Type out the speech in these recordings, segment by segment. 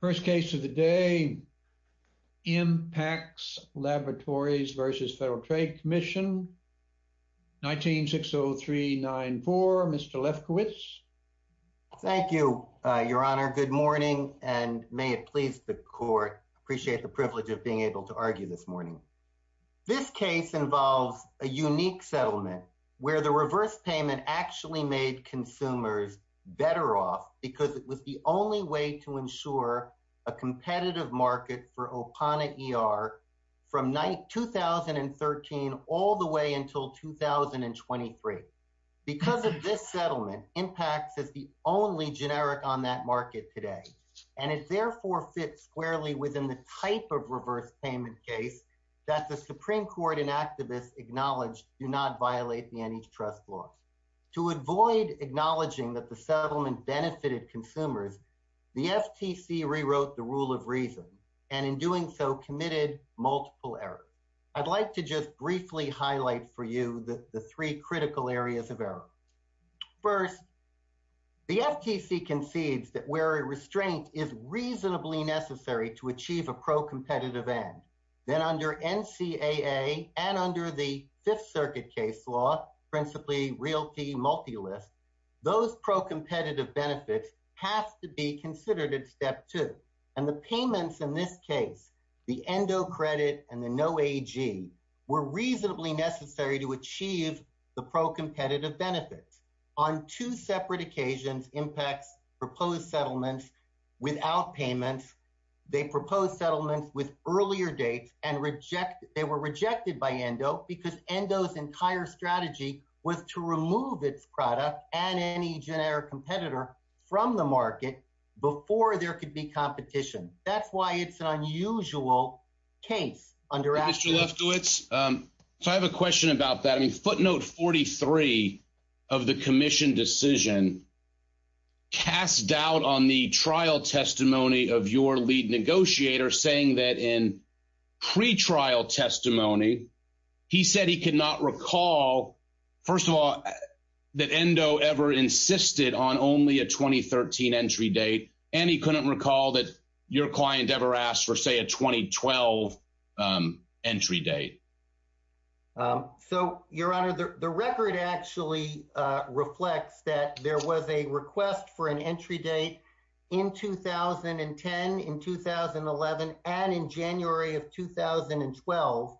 First case of the day, Impax Laboratories v. FTC, 19-60394, Mr. Lefkowitz. Thank you, Your Honor, good morning, and may it please the Court, I appreciate the privilege of being able to argue this morning. This case involves a unique settlement where the reverse payment actually made consumers better off because it was the only way to ensure a competitive market for Opana ER from 2013 all the way until 2023. Because of this settlement, Impax is the only generic on that market today, and it therefore fits squarely within the type of reverse payment case that the Supreme Court and activists acknowledge do not violate the antitrust law. To avoid acknowledging that the settlement benefited consumers, the FTC rewrote the rule of reason and in doing so committed multiple errors. I'd like to just briefly highlight for you the three critical areas of error. First, the FTC concedes that where a restraint is reasonably necessary to achieve a pro-competitive end. Then under NCAA and under the Fifth Circuit case law, principally Realty Multilist, those pro-competitive benefits have to be considered at step two. And the payments in this case, the endo credit and the no AG, were reasonably necessary to achieve the pro-competitive benefits. On two separate occasions, Impax proposed settlements without payments. They proposed settlements with earlier dates and rejected. They were rejected by endo because endo's entire strategy was to remove its product and any generic competitor from the market before there could be competition. That's why it's an unusual case under action. Mr. Lefkowitz, so I have a question about that. Footnote 43 of the commission decision cast doubt on the trial testimony of your lead negotiator saying that in pre-trial testimony, he said he could not recall, first of all, that endo ever insisted on only a 2013 entry date and he couldn't recall that your client ever asked for, say, a 2012 entry date. So, your honor, the record actually reflects that there was a request for an entry date in 2010, in 2011, and in January of 2012.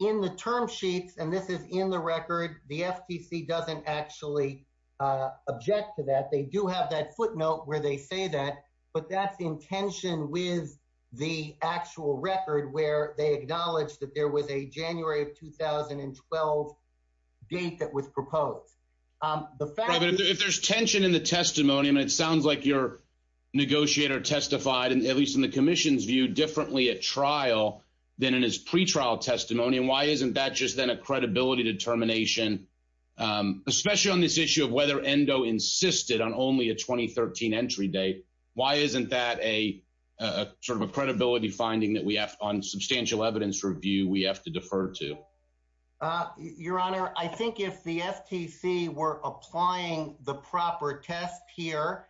In the term sheets, and this is in the record, the FTC doesn't actually object to that. They do have that footnote where they say that, but that's in tension with the actual record where they acknowledge that there was a January of 2012 date that was proposed. The fact is- But if there's tension in the testimony, I mean, it sounds like your negotiator testified, at least in the commission's view, differently at trial than in his pre-trial testimony. Why isn't that just then a credibility determination, especially on this issue of whether endo insisted on only a 2013 entry date? Why isn't that a sort of a credibility finding that we have on substantial evidence review we have to defer to? Your honor, I think if the FTC were applying the proper test here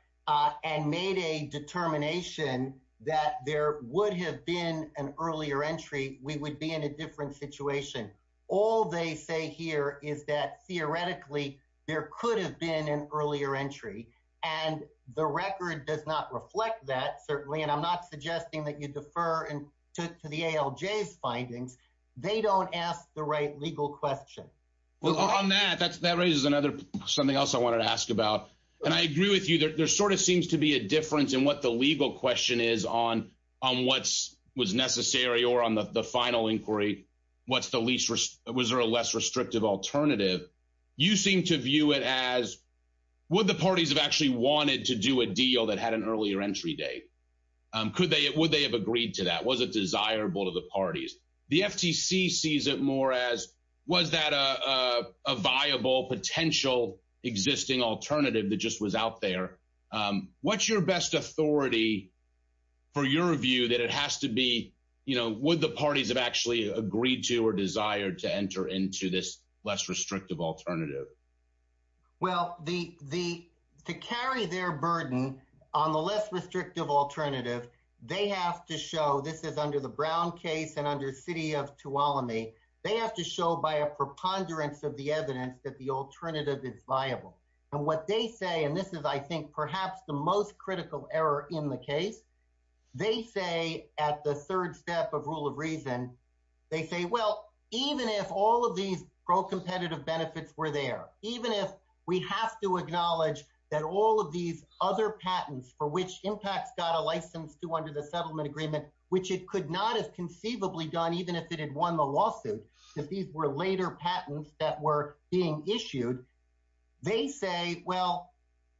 and made a determination that there would have been an earlier entry, we would be in a different situation. All they say here is that, theoretically, there could have been an earlier entry, and the record does not reflect that, certainly, and I'm not suggesting that you defer to the ALJ's findings. They don't ask the right legal question. Well, on that, that raises another- something else I wanted to ask about. And I agree with you. There sort of seems to be a difference in what the legal question is on what was necessary or on the final inquiry, what's the least- was there a less restrictive alternative. You seem to view it as, would the parties have actually wanted to do a deal that had an earlier entry date? Could they- would they have agreed to that? Was it desirable to the parties? The FTC sees it more as, was that a viable potential existing alternative that just was out there? What's your best authority for your view that it has to be, you know, would the parties have actually agreed to or desired to enter into this less restrictive alternative? Well, the- the- to carry their burden on the less restrictive alternative, they have to show- this is under the Brown case and under the City of Tuolumne- they have to show by a preponderance of the evidence that the alternative is viable. And what they say, and this is, I think, perhaps the most critical error in the case, they say at the third step of rule of reason, they say, well, even if all of these pro-competitive benefits were there, even if we have to acknowledge that all of these other patents for which impacts got a license to under the settlement agreement, which it could not have conceivably done even if it had won the lawsuit, if these were later patents that were being issued, they say, well,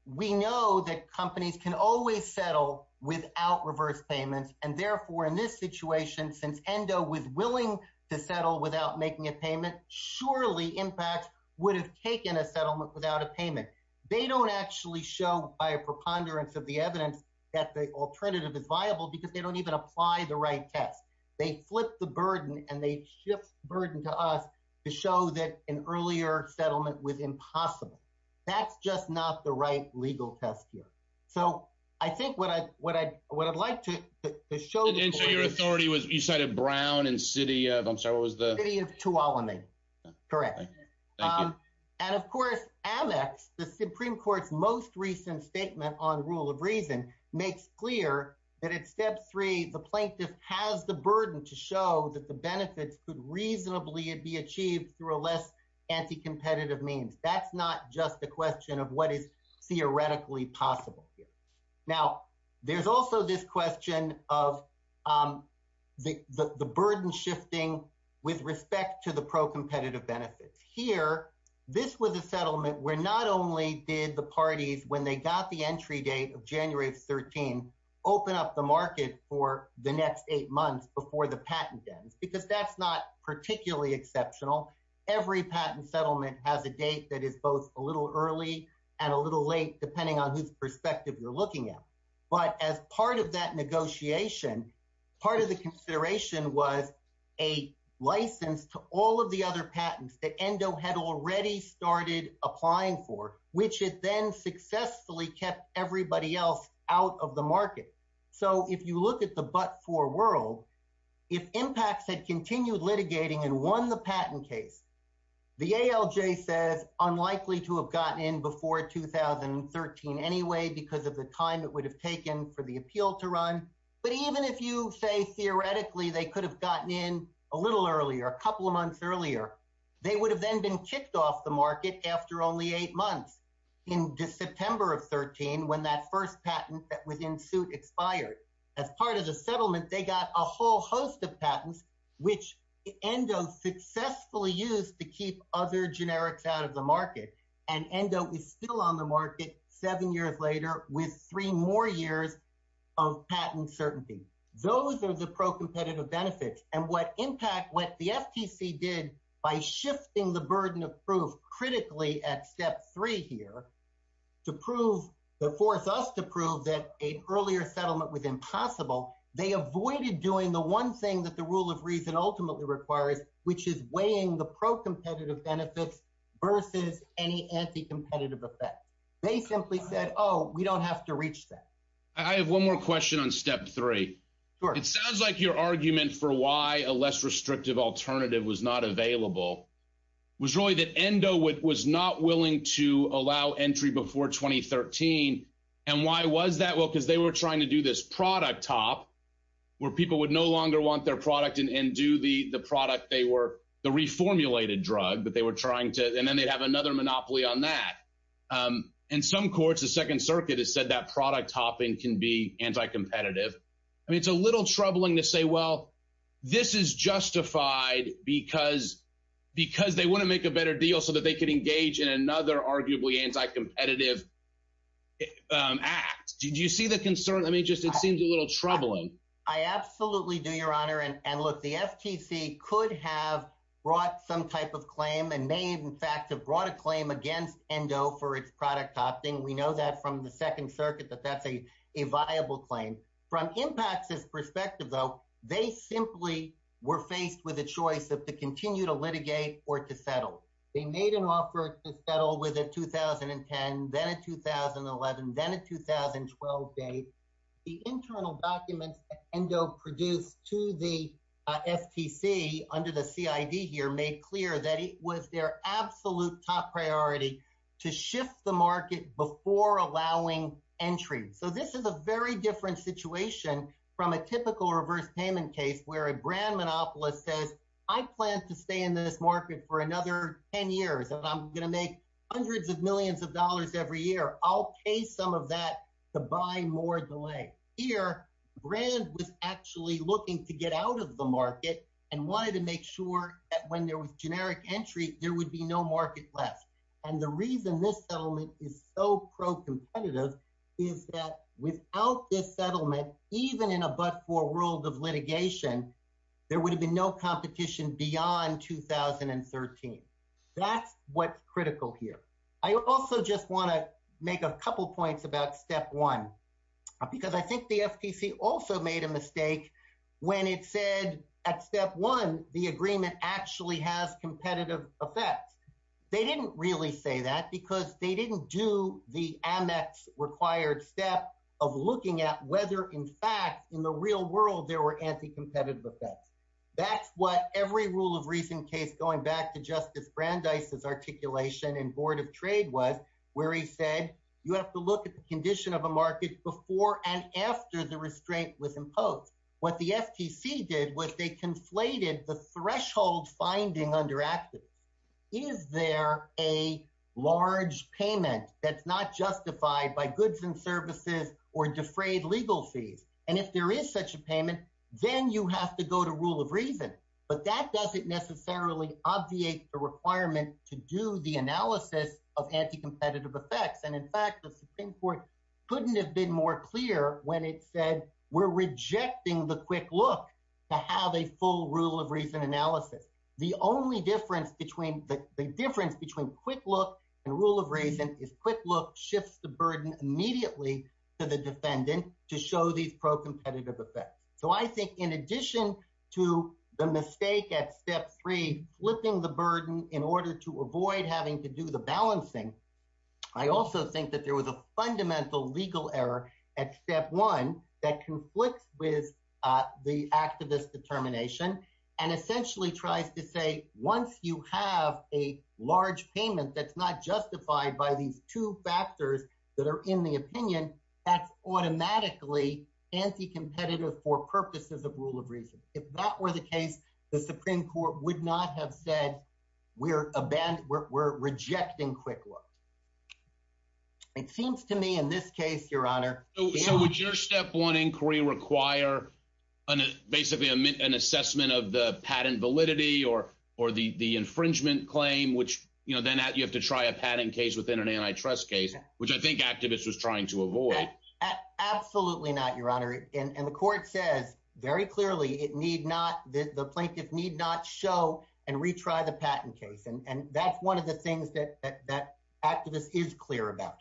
we know that companies can always settle without reverse payments. And therefore, in this situation, since ENDO was willing to settle without making a payment, surely impacts would have taken a settlement without a payment. They don't actually show by a preponderance of the evidence that the alternative is viable because they don't even apply the right test. They flip the burden and they shift the burden to us to show that an earlier settlement with ENDO is impossible. That's just not the right legal test here. So I think what I'd like to show- And so your authority was, you cited Brown and city of, I'm sorry, what was the- City of Tuolumne. Correct. Thank you. And of course, Amex, the Supreme Court's most recent statement on rule of reason makes clear that at step three, the plaintiff has the burden to show that the benefits could reasonably be achieved through a less anti-competitive means. That's not just the question of what is theoretically possible here. Now there's also this question of the burden shifting with respect to the pro-competitive benefits. Here, this was a settlement where not only did the parties, when they got the entry date of January of 13, open up the market for the next eight months before the patent ends, because that's not particularly exceptional. Every patent settlement has a date that is both a little early and a little late, depending on whose perspective you're looking at. But as part of that negotiation, part of the consideration was a license to all of the other patents that ENDO had already started applying for, which it then successfully kept everybody else out of the market. So if you look at the but-for world, if IMPACTS had continued litigating and won the patent case, the ALJ says unlikely to have gotten in before 2013 anyway, because of the time it would have taken for the appeal to run. But even if you say theoretically they could have gotten in a little earlier, a couple of months earlier, they would have then been kicked off the market after only eight months. In September of 13, when that first patent that was in suit expired, as part of the settlement, they got a whole host of patents, which ENDO successfully used to keep other generics out of the market, and ENDO is still on the market seven years later with three more years of patent certainty. Those are the pro-competitive benefits, and what IMPACT, what the FTC did by shifting the burden of proof critically at step three here to force us to prove that an earlier settlement was impossible, they avoided doing the one thing that the rule of reason ultimately requires, which is weighing the pro-competitive benefits versus any anti-competitive effects. They simply said, oh, we don't have to reach that. I have one more question on step three. It sounds like your argument for why a less restrictive alternative was not available was really that ENDO was not willing to allow entry before 2013. And why was that? Well, because they were trying to do this product top, where people would no longer want their product and do the reformulated drug, and then they'd have another monopoly on that. In some courts, the Second Circuit has said that product topping can be anti-competitive. I mean, it's a little troubling to say, well, this is justified because they want to make a better deal so that they could engage in another arguably anti-competitive act. Do you see the concern? I mean, it just seems a little troubling. I absolutely do, Your Honor. And look, the FTC could have brought some type of claim and may in fact have brought a claim against ENDO for its product topping. We know that from the Second Circuit that that's a viable claim. From IMPACT's perspective, though, they simply were faced with a choice of to continue to litigate or to settle. They made an offer to settle with a 2010, then a 2011, then a 2012 date. The internal documents that ENDO produced to the FTC under the CID here made clear that the delay was their absolute top priority to shift the market before allowing entry. So this is a very different situation from a typical reverse payment case where a brand monopolist says, I plan to stay in this market for another 10 years and I'm going to make hundreds of millions of dollars every year. I'll pay some of that to buy more delay. Here, brand was actually looking to get out of the market and wanted to make sure that when there was generic entry, there would be no market left. And the reason this settlement is so pro-competitive is that without this settlement, even in a but-for world of litigation, there would have been no competition beyond 2013. That's what's critical here. I also just want to make a couple points about step one, because I think the FTC also made a mistake when it said at step one, the agreement actually has competitive effects. They didn't really say that because they didn't do the Amex required step of looking at whether in fact, in the real world, there were anti-competitive effects. That's what every rule of reason case going back to Justice Brandeis' articulation in Board of Trade was, where he said, you have to look at the condition of a market before and after the restraint was imposed. What the FTC did was they conflated the threshold finding under actives. Is there a large payment that's not justified by goods and services or defrayed legal fees? And if there is such a payment, then you have to go to rule of reason. But that doesn't necessarily obviate the requirement to do the analysis of anti-competitive effects. And in fact, the Supreme Court couldn't have been more clear when it said, we're rejecting the quick look to have a full rule of reason analysis. The only difference between the difference between quick look and rule of reason is quick look shifts the burden immediately to the defendant to show these pro-competitive effects. So I think in addition to the mistake at step three, flipping the burden in order to avoid having to do the balancing, I also think that there was a fundamental legal error at step one that conflicts with the activist determination and essentially tries to say, once you have a large payment that's not justified by these two factors that are in the opinion, that's automatically anti-competitive for purposes of rule of reason. If that were the case, the Supreme Court would not have said we're rejecting quick look. It seems to me in this case, your honor. So would your step one inquiry require basically an assessment of the patent validity or the infringement claim, which then you have to try a patent case within an antitrust case, which I think activists was trying to avoid? Absolutely not, your honor. And the court says very clearly it need not the plaintiff need not show and retry the patent case. And that's one of the things that that activist is clear about.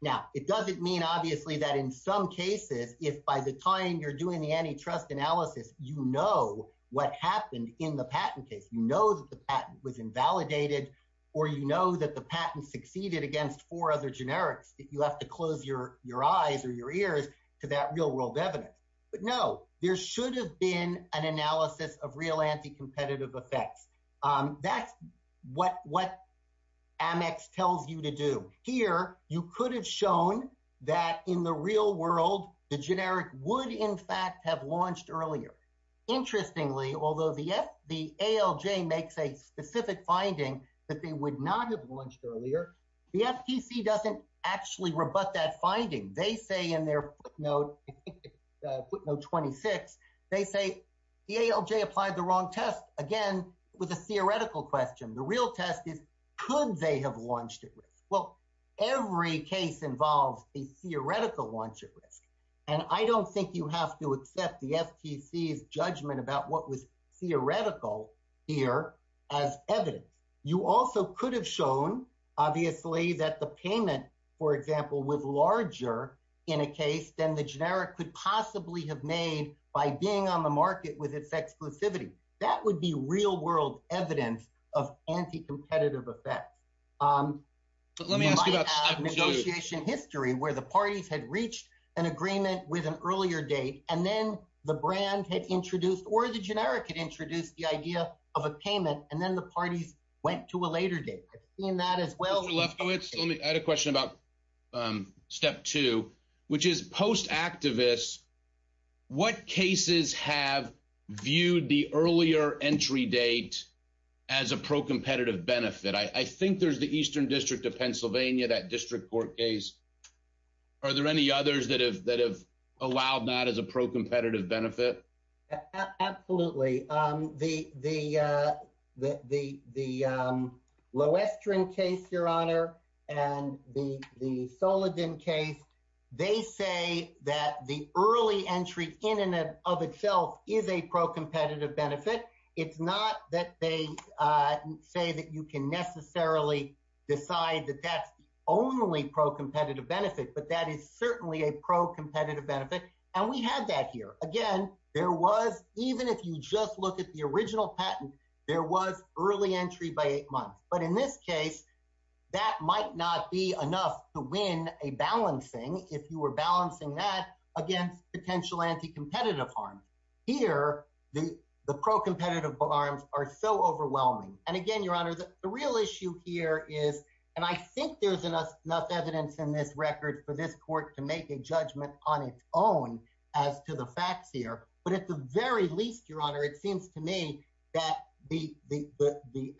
Now, it doesn't mean, obviously, that in some cases, if by the time you're doing the antitrust analysis, you know what happened in the patent case, you know that the patent was invalidated or you know that the patent succeeded against four other generics. If you have to close your your eyes or your ears to that real world evidence. But no, there should have been an analysis of real anti-competitive effects. That's what what Amex tells you to do here. You could have shown that in the real world, the generic would, in fact, have launched earlier. Interestingly, although the the ALJ makes a specific finding that they would not have launched earlier, the FTC doesn't actually rebut that finding. They say in their footnote, footnote 26, they say the ALJ applied the wrong test again with a theoretical question. The real test is, could they have launched it? Well, every case involves a theoretical launch at risk. And I don't think you have to accept the FTC's judgment about what was theoretical here as evidence. You also could have shown, obviously, that the payment, for example, was larger in a case than the generic could possibly have made by being on the market with its exclusivity. That would be real world evidence of anti-competitive effects. But let me ask you about the negotiation history where the parties had reached an agreement with an earlier date and then the brand had introduced or the generic had introduced the idea of a payment. And then the parties went to a later date. I've seen that as well. Mr. Lefkowitz, I had a question about step two, which is post-activists. What cases have viewed the earlier entry date as a pro-competitive benefit? I think there's the Eastern District of Pennsylvania, that district court case. Are there any others that have allowed that as a pro-competitive benefit? Absolutely. The Lowestrin case, Your Honor, and the Soledim case, they say that the early entry in and of itself is a pro-competitive benefit. It's not that they say that you can necessarily decide that that's the only pro-competitive benefit, but that is certainly a pro-competitive benefit. And we have that here. Again, there was even if you just look at the original patent, there was early entry by eight months. But in this case, that might not be enough to win a balancing if you were balancing that against potential anti-competitive harm. Here, the pro-competitive harms are so overwhelming. And again, Your Honor, the real issue here is, and I think there's enough evidence in this record for this court to make a judgment on its own as to the facts here. But at the very least, Your Honor, it seems to me that the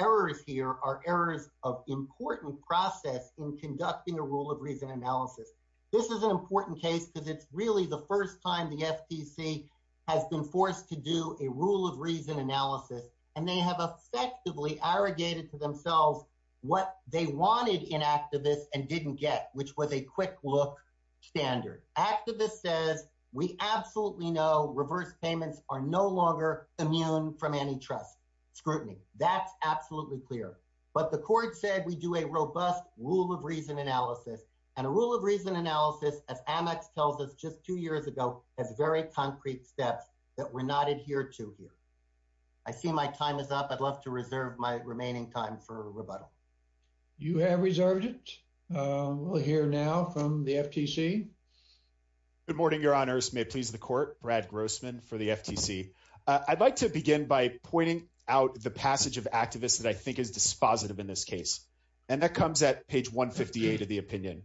errors here are errors of important process in conducting a rule of reason analysis. This is an important case because it's really the first time the FTC has been forced to do a rule of reason analysis, and they have effectively arrogated to themselves what they wanted in Activist and didn't get, which was a quick look standard. Activist says, we absolutely know reverse payments are no longer immune from antitrust scrutiny. That's absolutely clear. But the court said we do a robust rule of reason analysis and a rule of reason analysis, as Amex tells us just two years ago, has very concrete steps that we're not adhered to here. I see my time is up. I'd love to reserve my remaining time for rebuttal. You have reserved it. We'll hear now from the FTC. Good morning, Your Honors. May it please the court. Brad Grossman for the FTC. I'd like to begin by pointing out the passage of Activist that I think is dispositive in this case, and that comes at page 158 of the opinion.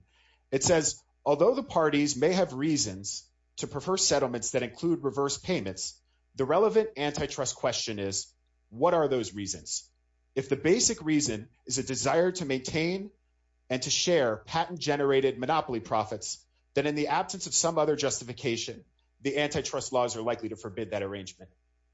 It says, although the parties may have reasons to prefer settlements that include reverse payments, the relevant antitrust question is, what are those reasons? If the basic reason is a desire to maintain and to share patent-generated monopoly profits, then in the absence of some other justification, the antitrust laws are likely to forbid that arrangement.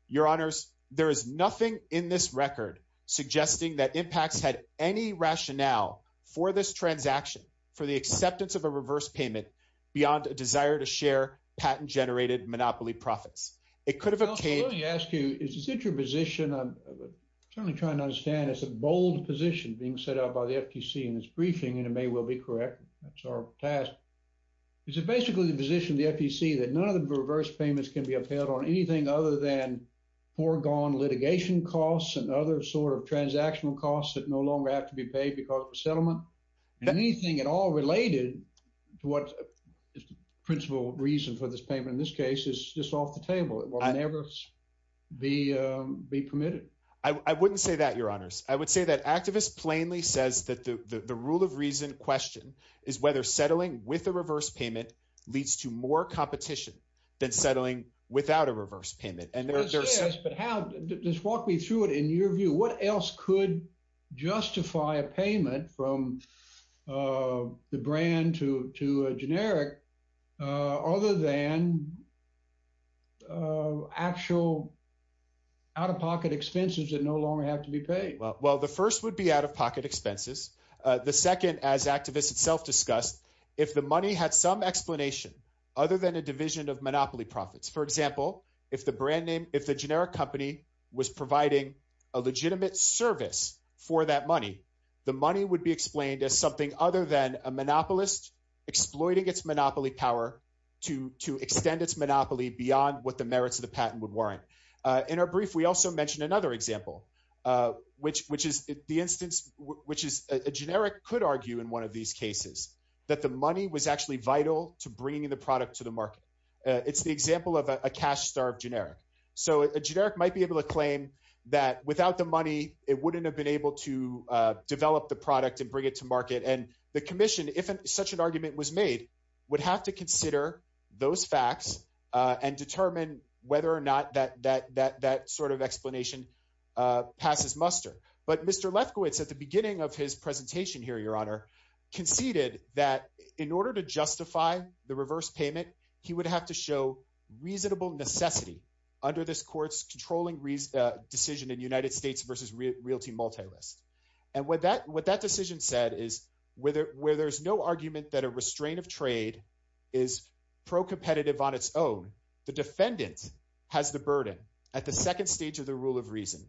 Your Honors, there is nothing in this record suggesting that Impacts had any rationale for this transaction, for the acceptance of a reverse payment, beyond a desire to share patent-generated monopoly profits. It could have obtained... I'm certainly trying to understand. It's a bold position being set out by the FTC in its briefing, and it may well be correct. That's our task. Is it basically the position of the FTC that none of the reverse payments can be upheld on anything other than foregone litigation costs and other sort of transactional costs that no longer have to be paid because of a settlement? And anything at all related to what is the principal reason for this payment in this case is just off the table. It will never be permitted. I wouldn't say that, Your Honors. I would say that activists plainly says that the rule of reason question is whether settling with a reverse payment leads to more competition than settling without a reverse payment. But just walk me through it in your view. What else could justify a payment from the brand to a generic other than actual out-of-pocket expenses that no longer have to be paid? Well, the first would be out-of-pocket expenses. The second, as activists itself discussed, if the money had some explanation other than a division of monopoly profits. For example, if the generic company was providing a legitimate service for that money, the money would be explained as something other than a monopolist exploiting its monopoly power to extend its monopoly beyond what the merits of the patent would warrant. In our brief, we also mentioned another example, which is a generic could argue in one of these cases that the money was actually vital to bringing the product to the market. It's the example of a cash starved generic. So a generic might be able to claim that without the money, it wouldn't have been able to develop the product and bring it to market. And the commission, if such an argument was made, would have to consider those facts and determine whether or not that sort of explanation passes muster. But Mr. Lefkowitz, at the beginning of his presentation here, Your Honor, conceded that in order to justify the reverse payment, he would have to show reasonable necessity under this court's controlling decision in United States versus realty multi-list. And what that decision said is where there's no argument that a restraint of trade is pro-competitive on its own, the defendant has the burden at the second stage of the rule of reason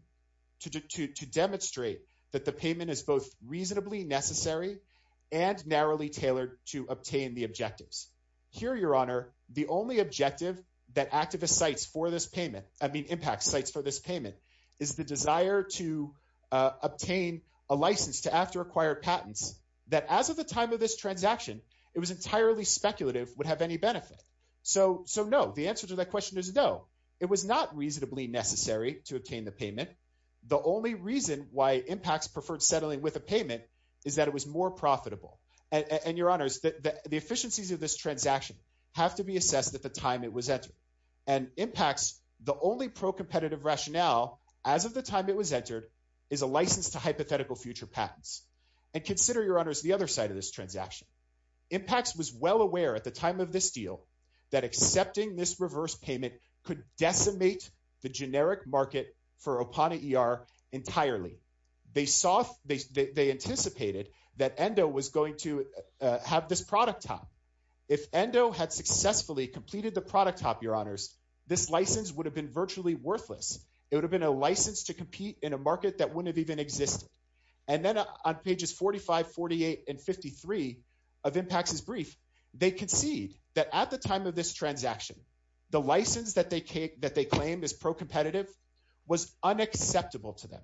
to demonstrate that the payment is both reasonably necessary and narrowly tailored to obtain the objectives. Here, Your Honor, the only objective that activist sites for this payment, I mean, impact sites for this payment, is the desire to obtain a license to after acquired patents that as of the time of this transaction, it was entirely speculative would have any benefit. So, no, the answer to that question is no. It was not reasonably necessary to obtain the payment. The only reason why impacts preferred settling with a payment is that it was more profitable. And, Your Honors, the efficiencies of this transaction have to be assessed at the time it was entered. And impacts, the only pro-competitive rationale as of the time it was entered, is a license to hypothetical future patents. And consider, Your Honors, the other side of this transaction. Impacts was well aware at the time of this deal that accepting this reverse payment could decimate the generic market for Opana ER entirely. They anticipated that Endo was going to have this product top. If Endo had successfully completed the product top, Your Honors, this license would have been virtually worthless. It would have been a license to compete in a market that wouldn't have even existed. And then on pages 45, 48, and 53 of impacts' brief, they concede that at the time of this transaction, the license that they claim is pro-competitive was unacceptable to them.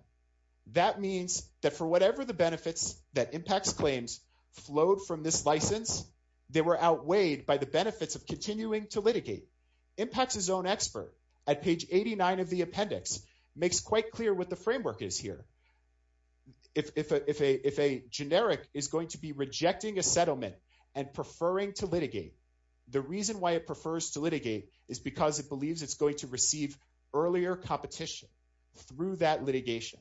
That means that for whatever the benefits that impacts claims flowed from this license, they were outweighed by the benefits of continuing to litigate. Impacts' own expert at page 89 of the appendix makes quite clear what the framework is here. If a generic is going to be rejecting a settlement and preferring to litigate, the reason why it prefers to litigate is because it believes it's going to receive earlier competition through that litigation.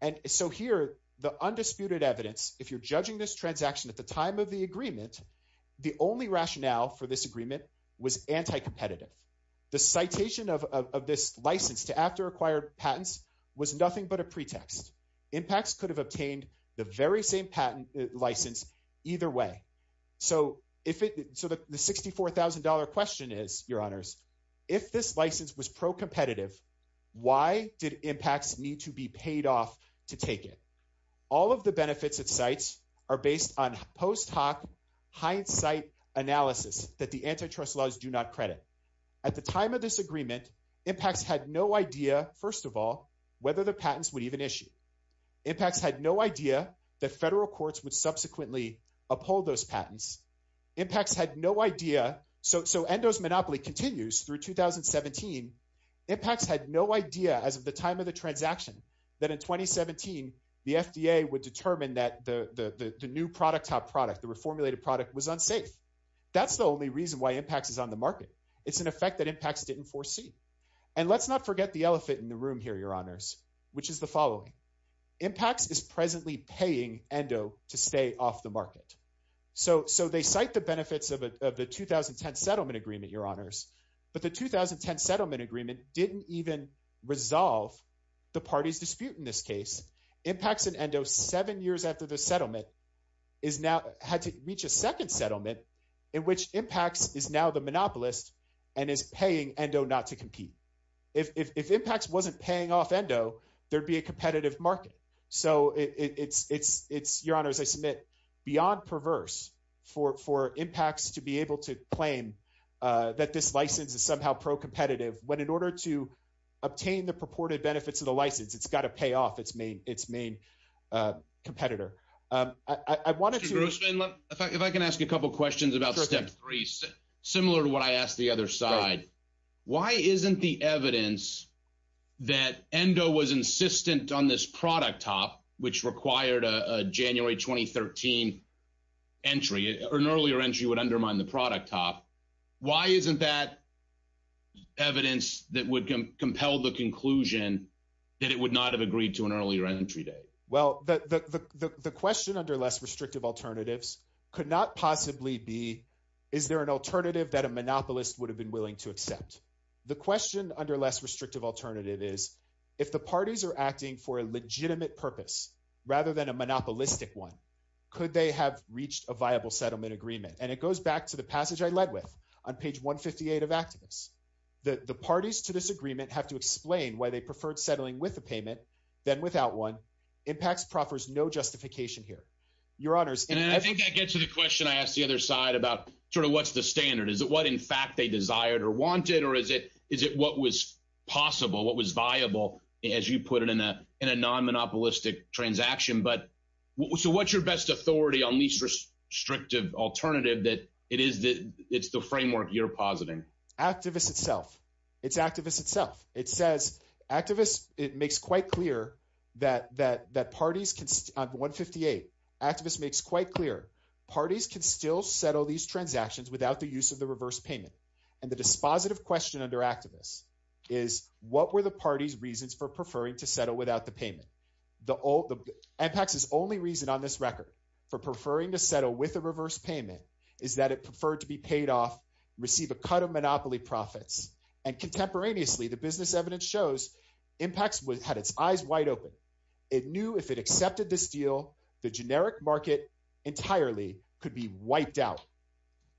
And so here, the undisputed evidence, if you're judging this transaction at the time of the agreement, the only rationale for this agreement was anti-competitive. The citation of this license to after-acquired patents was nothing but a pretext. Impacts could have obtained the very same patent license either way. So the $64,000 question is, your honors, if this license was pro-competitive, why did impacts need to be paid off to take it? All of the benefits it cites are based on post hoc hindsight analysis that the antitrust laws do not credit. At the time of this agreement, impacts had no idea, first of all, whether the patents would even issue. Impacts had no idea that federal courts would subsequently uphold those patents. Impacts had no idea, so Endo's monopoly continues through 2017. Impacts had no idea as of the time of the transaction that in 2017, the FDA would determine that the new product top product, the reformulated product was unsafe. That's the only reason why impacts is on the market. It's an effect that impacts didn't foresee. And let's not forget the elephant in the room here, your honors, which is the following. Impacts is presently paying Endo to stay off the market. So they cite the benefits of the 2010 settlement agreement, your honors, but the 2010 settlement agreement didn't even resolve the party's dispute in this case. Impacts and Endo, seven years after the settlement, had to reach a second settlement in which impacts is now the monopolist and is paying Endo not to compete. If impacts wasn't paying off Endo, there'd be a competitive market. So it's, your honors, I submit, beyond perverse for impacts to be able to claim that this license is somehow pro-competitive when in order to obtain the purported benefits of the license, it's got to pay off its main. Its main competitor, I wanted to, if I can ask a couple of questions about step three, similar to what I asked the other side, why isn't the evidence that Endo was insistent on this product top, which required a January 2013 entry or an earlier entry would undermine the product top? Why isn't that evidence that would compel the conclusion that it would not have agreed to an earlier entry date? Well, the question under less restrictive alternatives could not possibly be, is there an alternative that a monopolist would have been willing to accept? The question under less restrictive alternative is if the parties are acting for a legitimate purpose rather than a monopolistic one, could they have reached a viable settlement agreement? And it goes back to the passage I led with on page 158 of activists, that the parties to this agreement have to explain why they preferred settling with a payment than without one impacts, proffers, no justification here, your honors. And I think I get to the question I asked the other side about sort of what's the standard. Is it what, in fact, they desired or wanted, or is it, is it what was possible, what was viable as you put it in a, in a non monopolistic transaction? But so what's your best authority on least restrictive alternative that it is the, it's the framework you're positing. Activists itself, it's activists itself. It says activists, it makes quite clear that, that, that parties can 158 activists makes quite clear. Parties can still settle these transactions without the use of the reverse payment. And the dispositive question under activists is what were the party's reasons for preferring to settle without the payment? The old impacts is only reason on this record for preferring to settle with a reverse payment is that it preferred to be paid off, receive a cut of monopoly profits. And contemporaneously, the business evidence shows impacts with had its eyes wide open. It knew if it accepted this deal, the generic market entirely could be wiped out.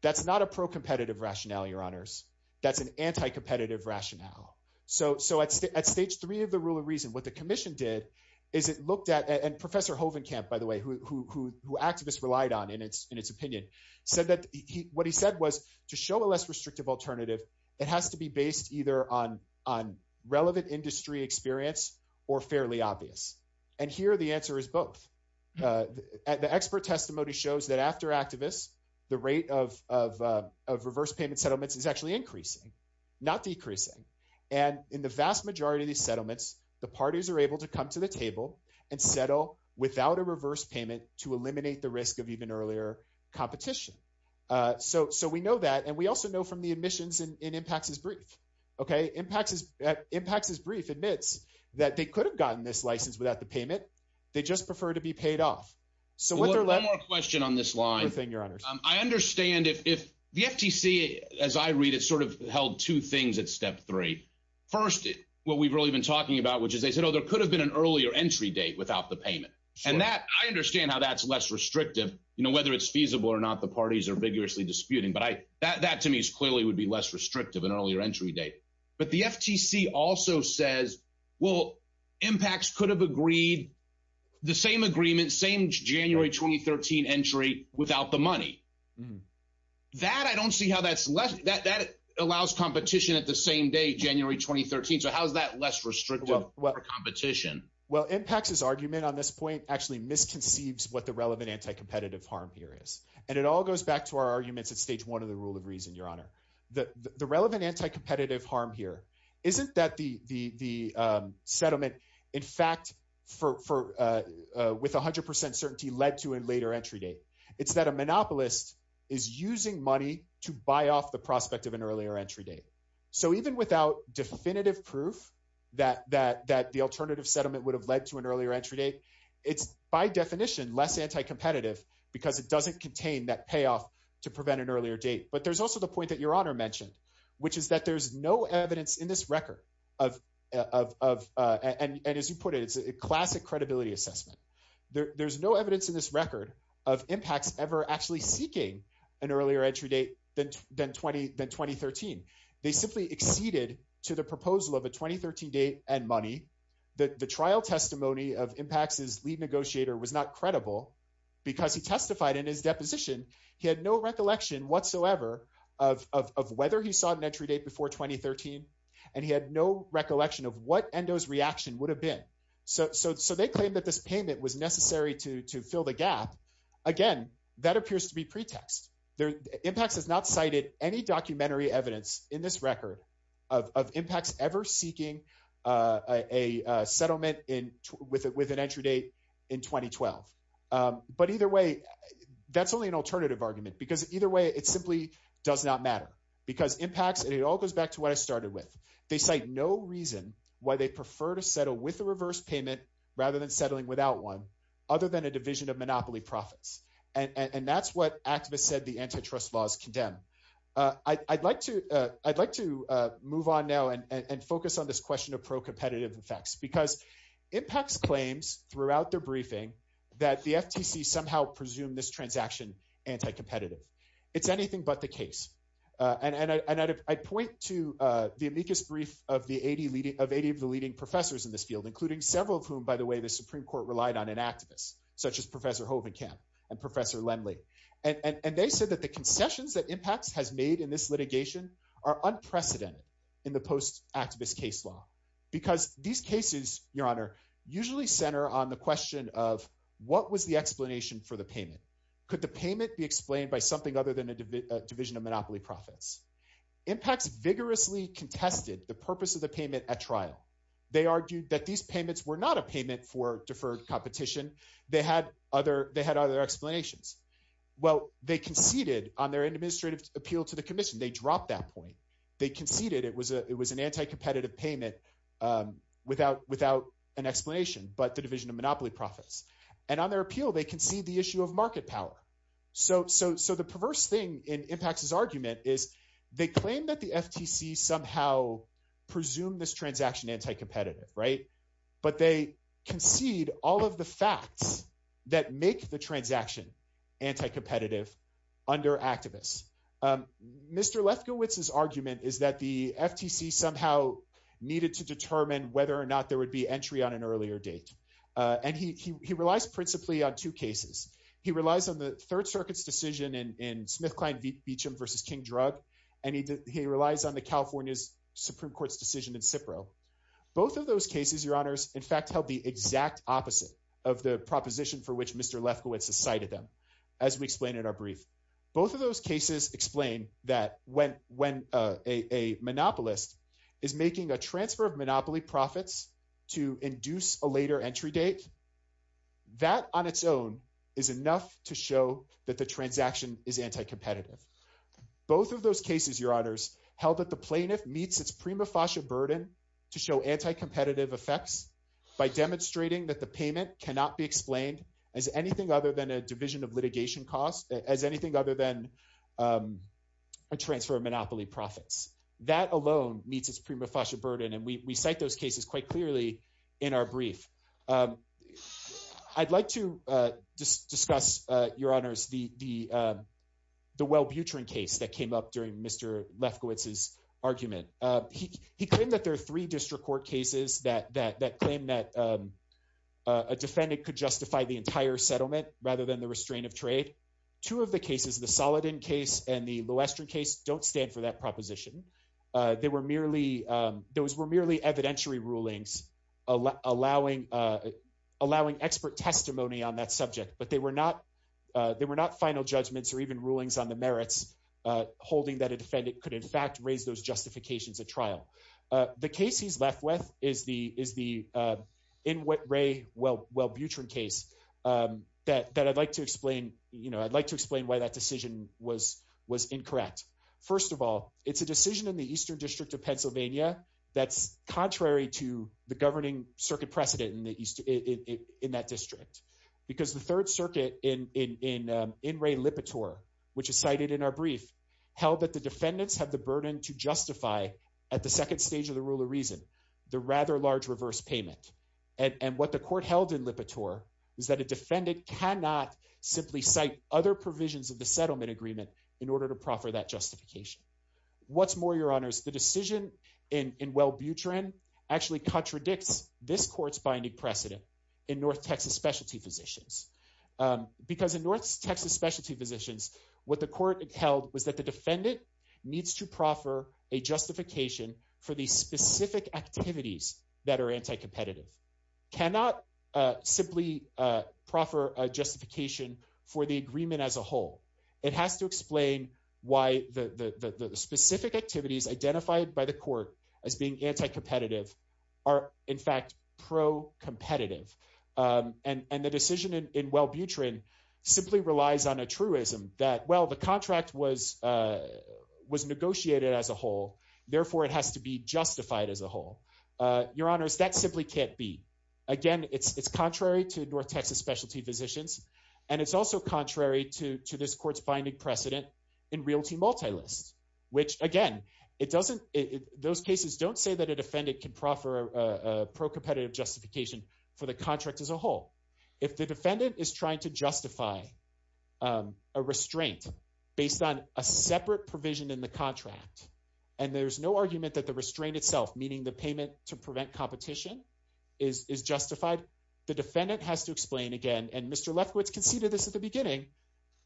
That's not a pro competitive rationale, your honors. That's an anti-competitive rationale. So, so at, at stage three of the rule of reason, what the commission did is it looked at, and professor Hovenkamp, by the way, who, who, who, who activists relied on in its, in its opinion said that he, what he said was to show a less restrictive alternative. It has to be based either on, on relevant industry experience or fairly obvious. And here, the answer is both the expert testimony shows that after activists, the rate of, of, of reverse payment settlements is actually increasing, not decreasing. And in the vast majority of these settlements, the parties are able to come to the table and settle without a reverse payment to eliminate the risk of even earlier competition. So, so we know that. And we also know from the admissions and impacts is brief. Okay. Impacts is impacts is brief admits that they could have gotten this license without the payment. They just prefer to be paid off. So one more question on this line, I understand if, if the FTC, as I read it sort of held two things at step three, first, what we've really been talking about, which is they said, oh, there could have been an earlier entry date without the payment. And that I understand how that's less restrictive, you know, whether it's feasible or not, the parties are vigorously disputing, but I, that, that to me is clearly would be less restrictive and earlier entry date. But the FTC also says, well, impacts could have agreed the same agreement, same January, 2013 entry without the money that I don't see how that's less that that allows competition at the same day, January, 2013. So how's that less restrictive competition? Well, impacts is argument on this point actually misconceives what the relevant anti-competitive harm here is. And it all goes back to our arguments at stage one of the rule of reason. The, the relevant anti-competitive harm here, isn't that the, the, the settlement in fact, for, for with a hundred percent certainty led to a later entry date. It's that a monopolist is using money to buy off the prospect of an earlier entry date. So even without definitive proof that, that, that the alternative settlement would have led to an earlier entry date, it's by definition, less anti-competitive because it doesn't contain that payoff to prevent an earlier date. But there's also the point that your honor mentioned, which is that there's no evidence in this record of, of, of, uh, and, and as you put it, it's a classic credibility assessment. There there's no evidence in this record of impacts ever actually seeking an earlier entry date than, than 20, than 2013, they simply acceded to the proposal of a 2013 date and money. The, the trial testimony of impacts is lead negotiator was not credible because he testified in his deposition. He had no recollection whatsoever of, of, of whether he saw an entry date before 2013 and he had no recollection of what endos reaction would have been. So, so, so they claimed that this payment was necessary to, to fill the gap again, that appears to be pretext. There impacts has not cited any documentary evidence in this record of, of impacts ever seeking, uh, a, a, a settlement in with, with an entry date in 2012. Um, but either way, that's only an alternative argument because either way, it's simply does not matter because impacts and it all goes back to what I started with. They cite no reason why they prefer to settle with the reverse payment rather than settling without one other than a division of monopoly profits. And that's what activists said. The antitrust laws condemn, uh, I I'd like to, uh, I'd like to, uh, move on now and, and, and focus on this question of pro competitive effects because impacts claims throughout the briefing that the FTC somehow presume this transaction anti-competitive. It's anything but the case. Uh, and, and I, and I'd, I'd point to, uh, the amicus brief of the 80 leading of 80 of the leading professors in this field, including several of whom, by the way, the Supreme court relied on an activist such as professor Hovinkamp and professor Lendley. And they said that the concessions that impacts has made in this litigation are unprecedented in the post activist case law. Because these cases, your honor, usually center on the question of what was the explanation for the payment? Could the payment be explained by something other than a division of monopoly profits impacts vigorously contested the purpose of the payment at trial. They argued that these payments were not a payment for deferred competition. They had other, they had other explanations. Well, they conceded on their administrative appeal to the commission. They dropped that point. They conceded it was a, it was an anti-competitive payment, um, without, without an explanation, but the division of monopoly profits and on their appeal, they can see the issue of market power. So, so, so the perverse thing in impacts is argument is they claim that the FTC somehow presume this transaction anti-competitive, right? But they concede all of the facts that make the transaction anti-competitive under activists. Um, Mr. Lefkowitz, his argument is that the FTC somehow needed to determine whether or not there would be entry on an earlier date. Uh, and he, he, he relies principally on two cases. He relies on the third circuit's decision in, in SmithKline Beacham versus King drug. And he, he relies on the California's Supreme court's decision in Cipro. Both of those cases, your honors, in fact, held the exact opposite of the proposition for which Mr. Lefkowitz has cited them. As we explained in our brief, both of those cases explain that when, when, uh, a, a monopolist is making a transfer of monopoly profits to induce a later entry date. That on its own is enough to show that the transaction is anti-competitive. Both of those cases, your honors held that the plaintiff meets its prima facie burden to show anti-competitive effects by demonstrating that the payment cannot be explained as anything other than a division of litigation costs as anything other than, um, a transfer of monopoly profits. That alone meets its prima facie burden. And we, we cite those cases quite clearly in our brief. Um, I'd like to, uh, just discuss, uh, your honors, the, the, um, the Wellbutrin case that came up during Mr. Lefkowitz's argument. Uh, he, he claimed that there are three district court cases that, that, that claim that, um, uh, a defendant could justify the entire settlement rather than the restraint of trade. Two of the cases, the Saladin case and the Loestrin case don't stand for that proposition. Uh, they were merely, um, those were merely evidentiary rulings, uh, allowing, uh, allowing expert testimony on that subject, but they were not, uh, they were not final judgments or even rulings on the merits, uh, holding that a defendant could in fact raise those justifications at trial. Uh, the case he's left with is the, is the, uh, in what Ray Wellbutrin case, um, that, that I'd like to explain, you know, I'd like to explain why that decision was, was incorrect. First of all, it's a decision in the Eastern district of Pennsylvania. That's contrary to the governing circuit precedent in the East, in that district, because the third circuit in, in, in, um, in Ray Lipitor, which is cited in our brief held that the defendants have the burden to justify at the second stage of the rule of reason, the rather large reverse payment. And what the court held in Lipitor is that a defendant cannot simply cite other provisions of the settlement agreement in order to proffer that justification. What's more, your honors, the decision in, in Wellbutrin actually contradicts this court's binding precedent in North Texas specialty physicians. Um, because in North Texas specialty physicians, what the court held was that the defendant needs to proffer a justification for the specific activities that are anti-competitive. Cannot, uh, simply, uh, proffer a justification for the agreement as a whole. It has to explain why the, the, the, the specific activities identified by the court as being anti-competitive are in fact pro competitive. Um, and, and the decision in Wellbutrin simply relies on a truism that, well, the contract was, uh, was negotiated as a whole. Therefore it has to be justified as a whole. Uh, your honors, that simply can't be. Again, it's, it's contrary to North Texas specialty physicians, and it's also contrary to, to this court's binding precedent in realty multilists. Which again, it doesn't, those cases don't say that a defendant can proffer a pro competitive justification for the contract as a whole. If the defendant is trying to justify, um, a restraint based on a separate provision in the contract. And there's no argument that the restraint itself, meaning the payment to prevent competition is, is justified. The defendant has to explain again, and Mr.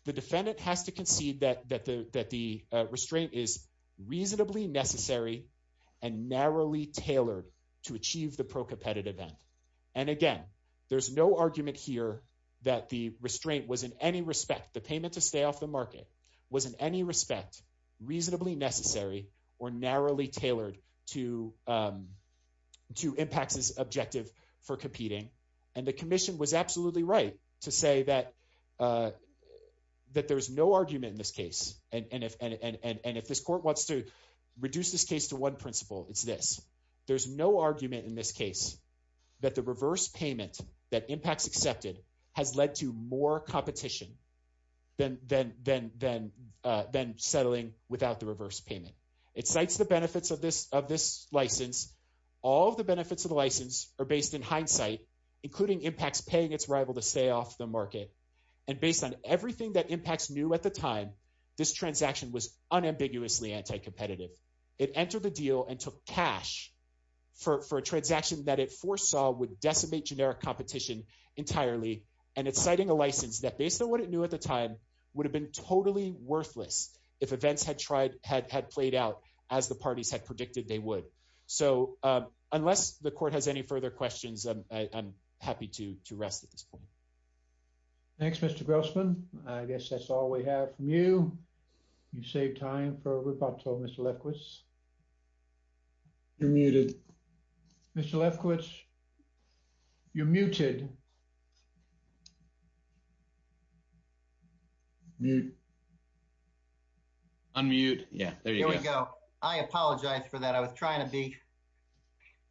The defendant has to concede that, that the, that the, uh, restraint is reasonably necessary and narrowly tailored to achieve the pro competitive end. And again, there's no argument here that the restraint was in any respect, the payment to stay off the market was in any respect, reasonably necessary or narrowly tailored to, um, to impact this objective for competing. And the commission was absolutely right to say that, uh, that there's no argument in this case. And if, and, and, and, and if this court wants to reduce this case to one principle, it's this, there's no argument in this case that the reverse payment that impacts accepted has led to more competition than, than, than, than, uh, than settling without the reverse payment. It cites the benefits of this, of this license. All of the benefits of the license are based in hindsight, including impacts, paying its rival to stay off the market. And based on everything that impacts knew at the time, this transaction was unambiguously anti-competitive. It entered the deal and took cash for, for a transaction that it foresaw would decimate generic competition entirely. And it's citing a license that based on what it knew at the time would have been totally worthless if events had tried, had, had played out as the parties had predicted they would. So, uh, unless the court has any further questions, I'm happy to, to rest at this point. Thanks, Mr. Grossman. I guess that's all we have from you. You saved time for a rebuttal, Mr. Lefkowitz. You're muted. Mr. Lefkowitz, you're muted. Unmute. Yeah, there you go. I apologize for that. I was trying to be,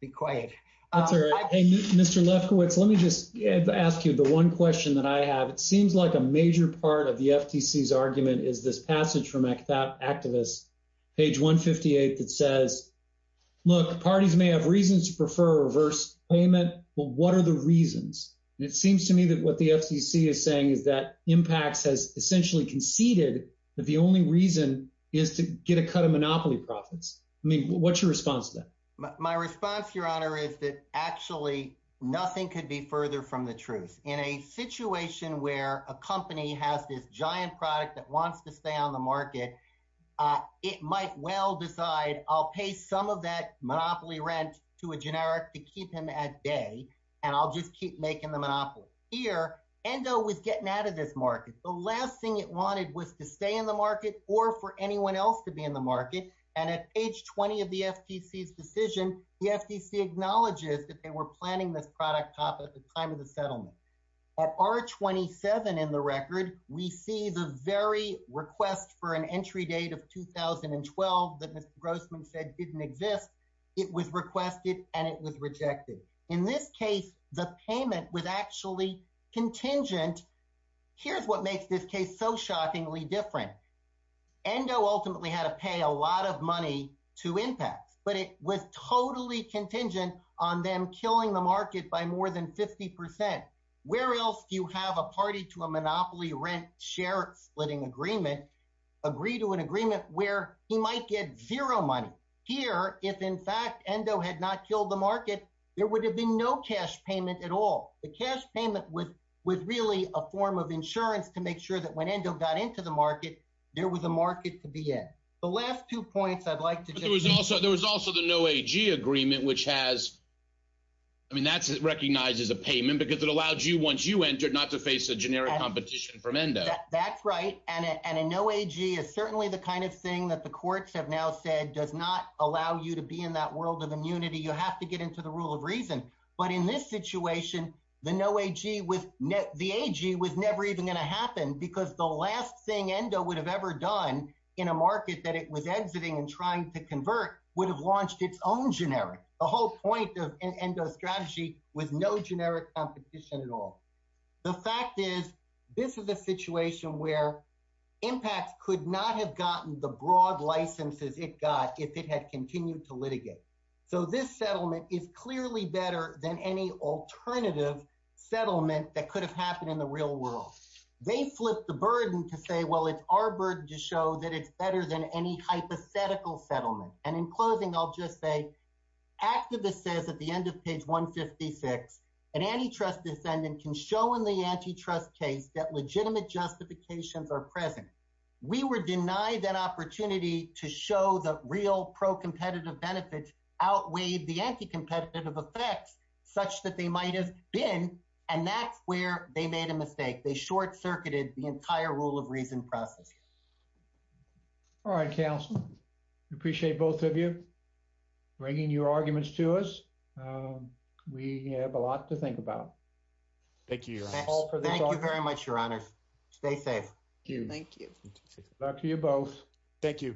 be quiet. That's all right. Hey, Mr. Lefkowitz, let me just ask you the one question that I have. It seems like a major part of the FTC's argument is this passage from Activist, page 158, that says, look, parties may have reasons to prefer a reverse payment. Well, what are the reasons? And it seems to me that what the FTC is saying is that impacts has essentially conceded that the only reason is to get a cut of monopoly profits. I mean, what's your response to that? My response, Your Honor, is that actually nothing could be further from the truth. In a situation where a company has this giant product that wants to stay on the market, it might well decide, I'll pay some of that monopoly rent to a generic to keep him at bay, and I'll just keep making the monopoly. Here, ENDO was getting out of this market. The last thing it wanted was to stay in the market or for anyone else to be in the market. And at age 20 of the FTC's decision, the FTC acknowledges that they were planning this product at the time of the settlement. At R27 in the record, we see the very request for an entry date of 2012 that Mr. Grossman said didn't exist. It was requested and it was rejected. In this case, the payment was actually contingent. Here's what makes this case so shockingly different. ENDO ultimately had to pay a lot of money to IMPACT, but it was totally contingent on them killing the market by more than 50 percent. Where else do you have a party to a monopoly rent share splitting agreement agree to an agreement where he might get zero money? Here, if in fact ENDO had not killed the market, there would have been no cash payment at all. The cash payment was really a form of insurance to make sure that when ENDO got into the market, there was a market to be in. The last two points I'd like to do is also there was also the no AG agreement, which has. I mean, that's recognized as a payment because it allows you once you enter not to face a generic competition from ENDO. That's right. And a no AG is certainly the kind of thing that the courts have now said does not allow you to be in that world of immunity. You have to get into the rule of reason. But in this situation, the no AG with the AG was never even going to happen because the last thing ENDO would have ever done in a market that it was exiting and trying to convert would have launched its own generic. The whole point of ENDO strategy was no generic competition at all. The fact is, this is a situation where IMPACT could not have gotten the broad licenses it got if it had continued to litigate. So this settlement is clearly better than any alternative settlement that could have happened in the real world. They flip the burden to say, well, it's our burden to show that it's better than any hypothetical settlement. And in closing, I'll just say activists says at the end of page 156, an antitrust defendant can show in the antitrust case that legitimate justifications are present. We were denied that opportunity to show that real pro-competitive benefits outweighed the anti-competitive effects such that they might have been. And that's where they made a mistake. They short-circuited the entire rule of reason process. All right, counsel, we appreciate both of you bringing your arguments to us. We have a lot to think about. Thank you. Thank you very much, Your Honor. Stay safe. Thank you. Good luck to you both. Thank you.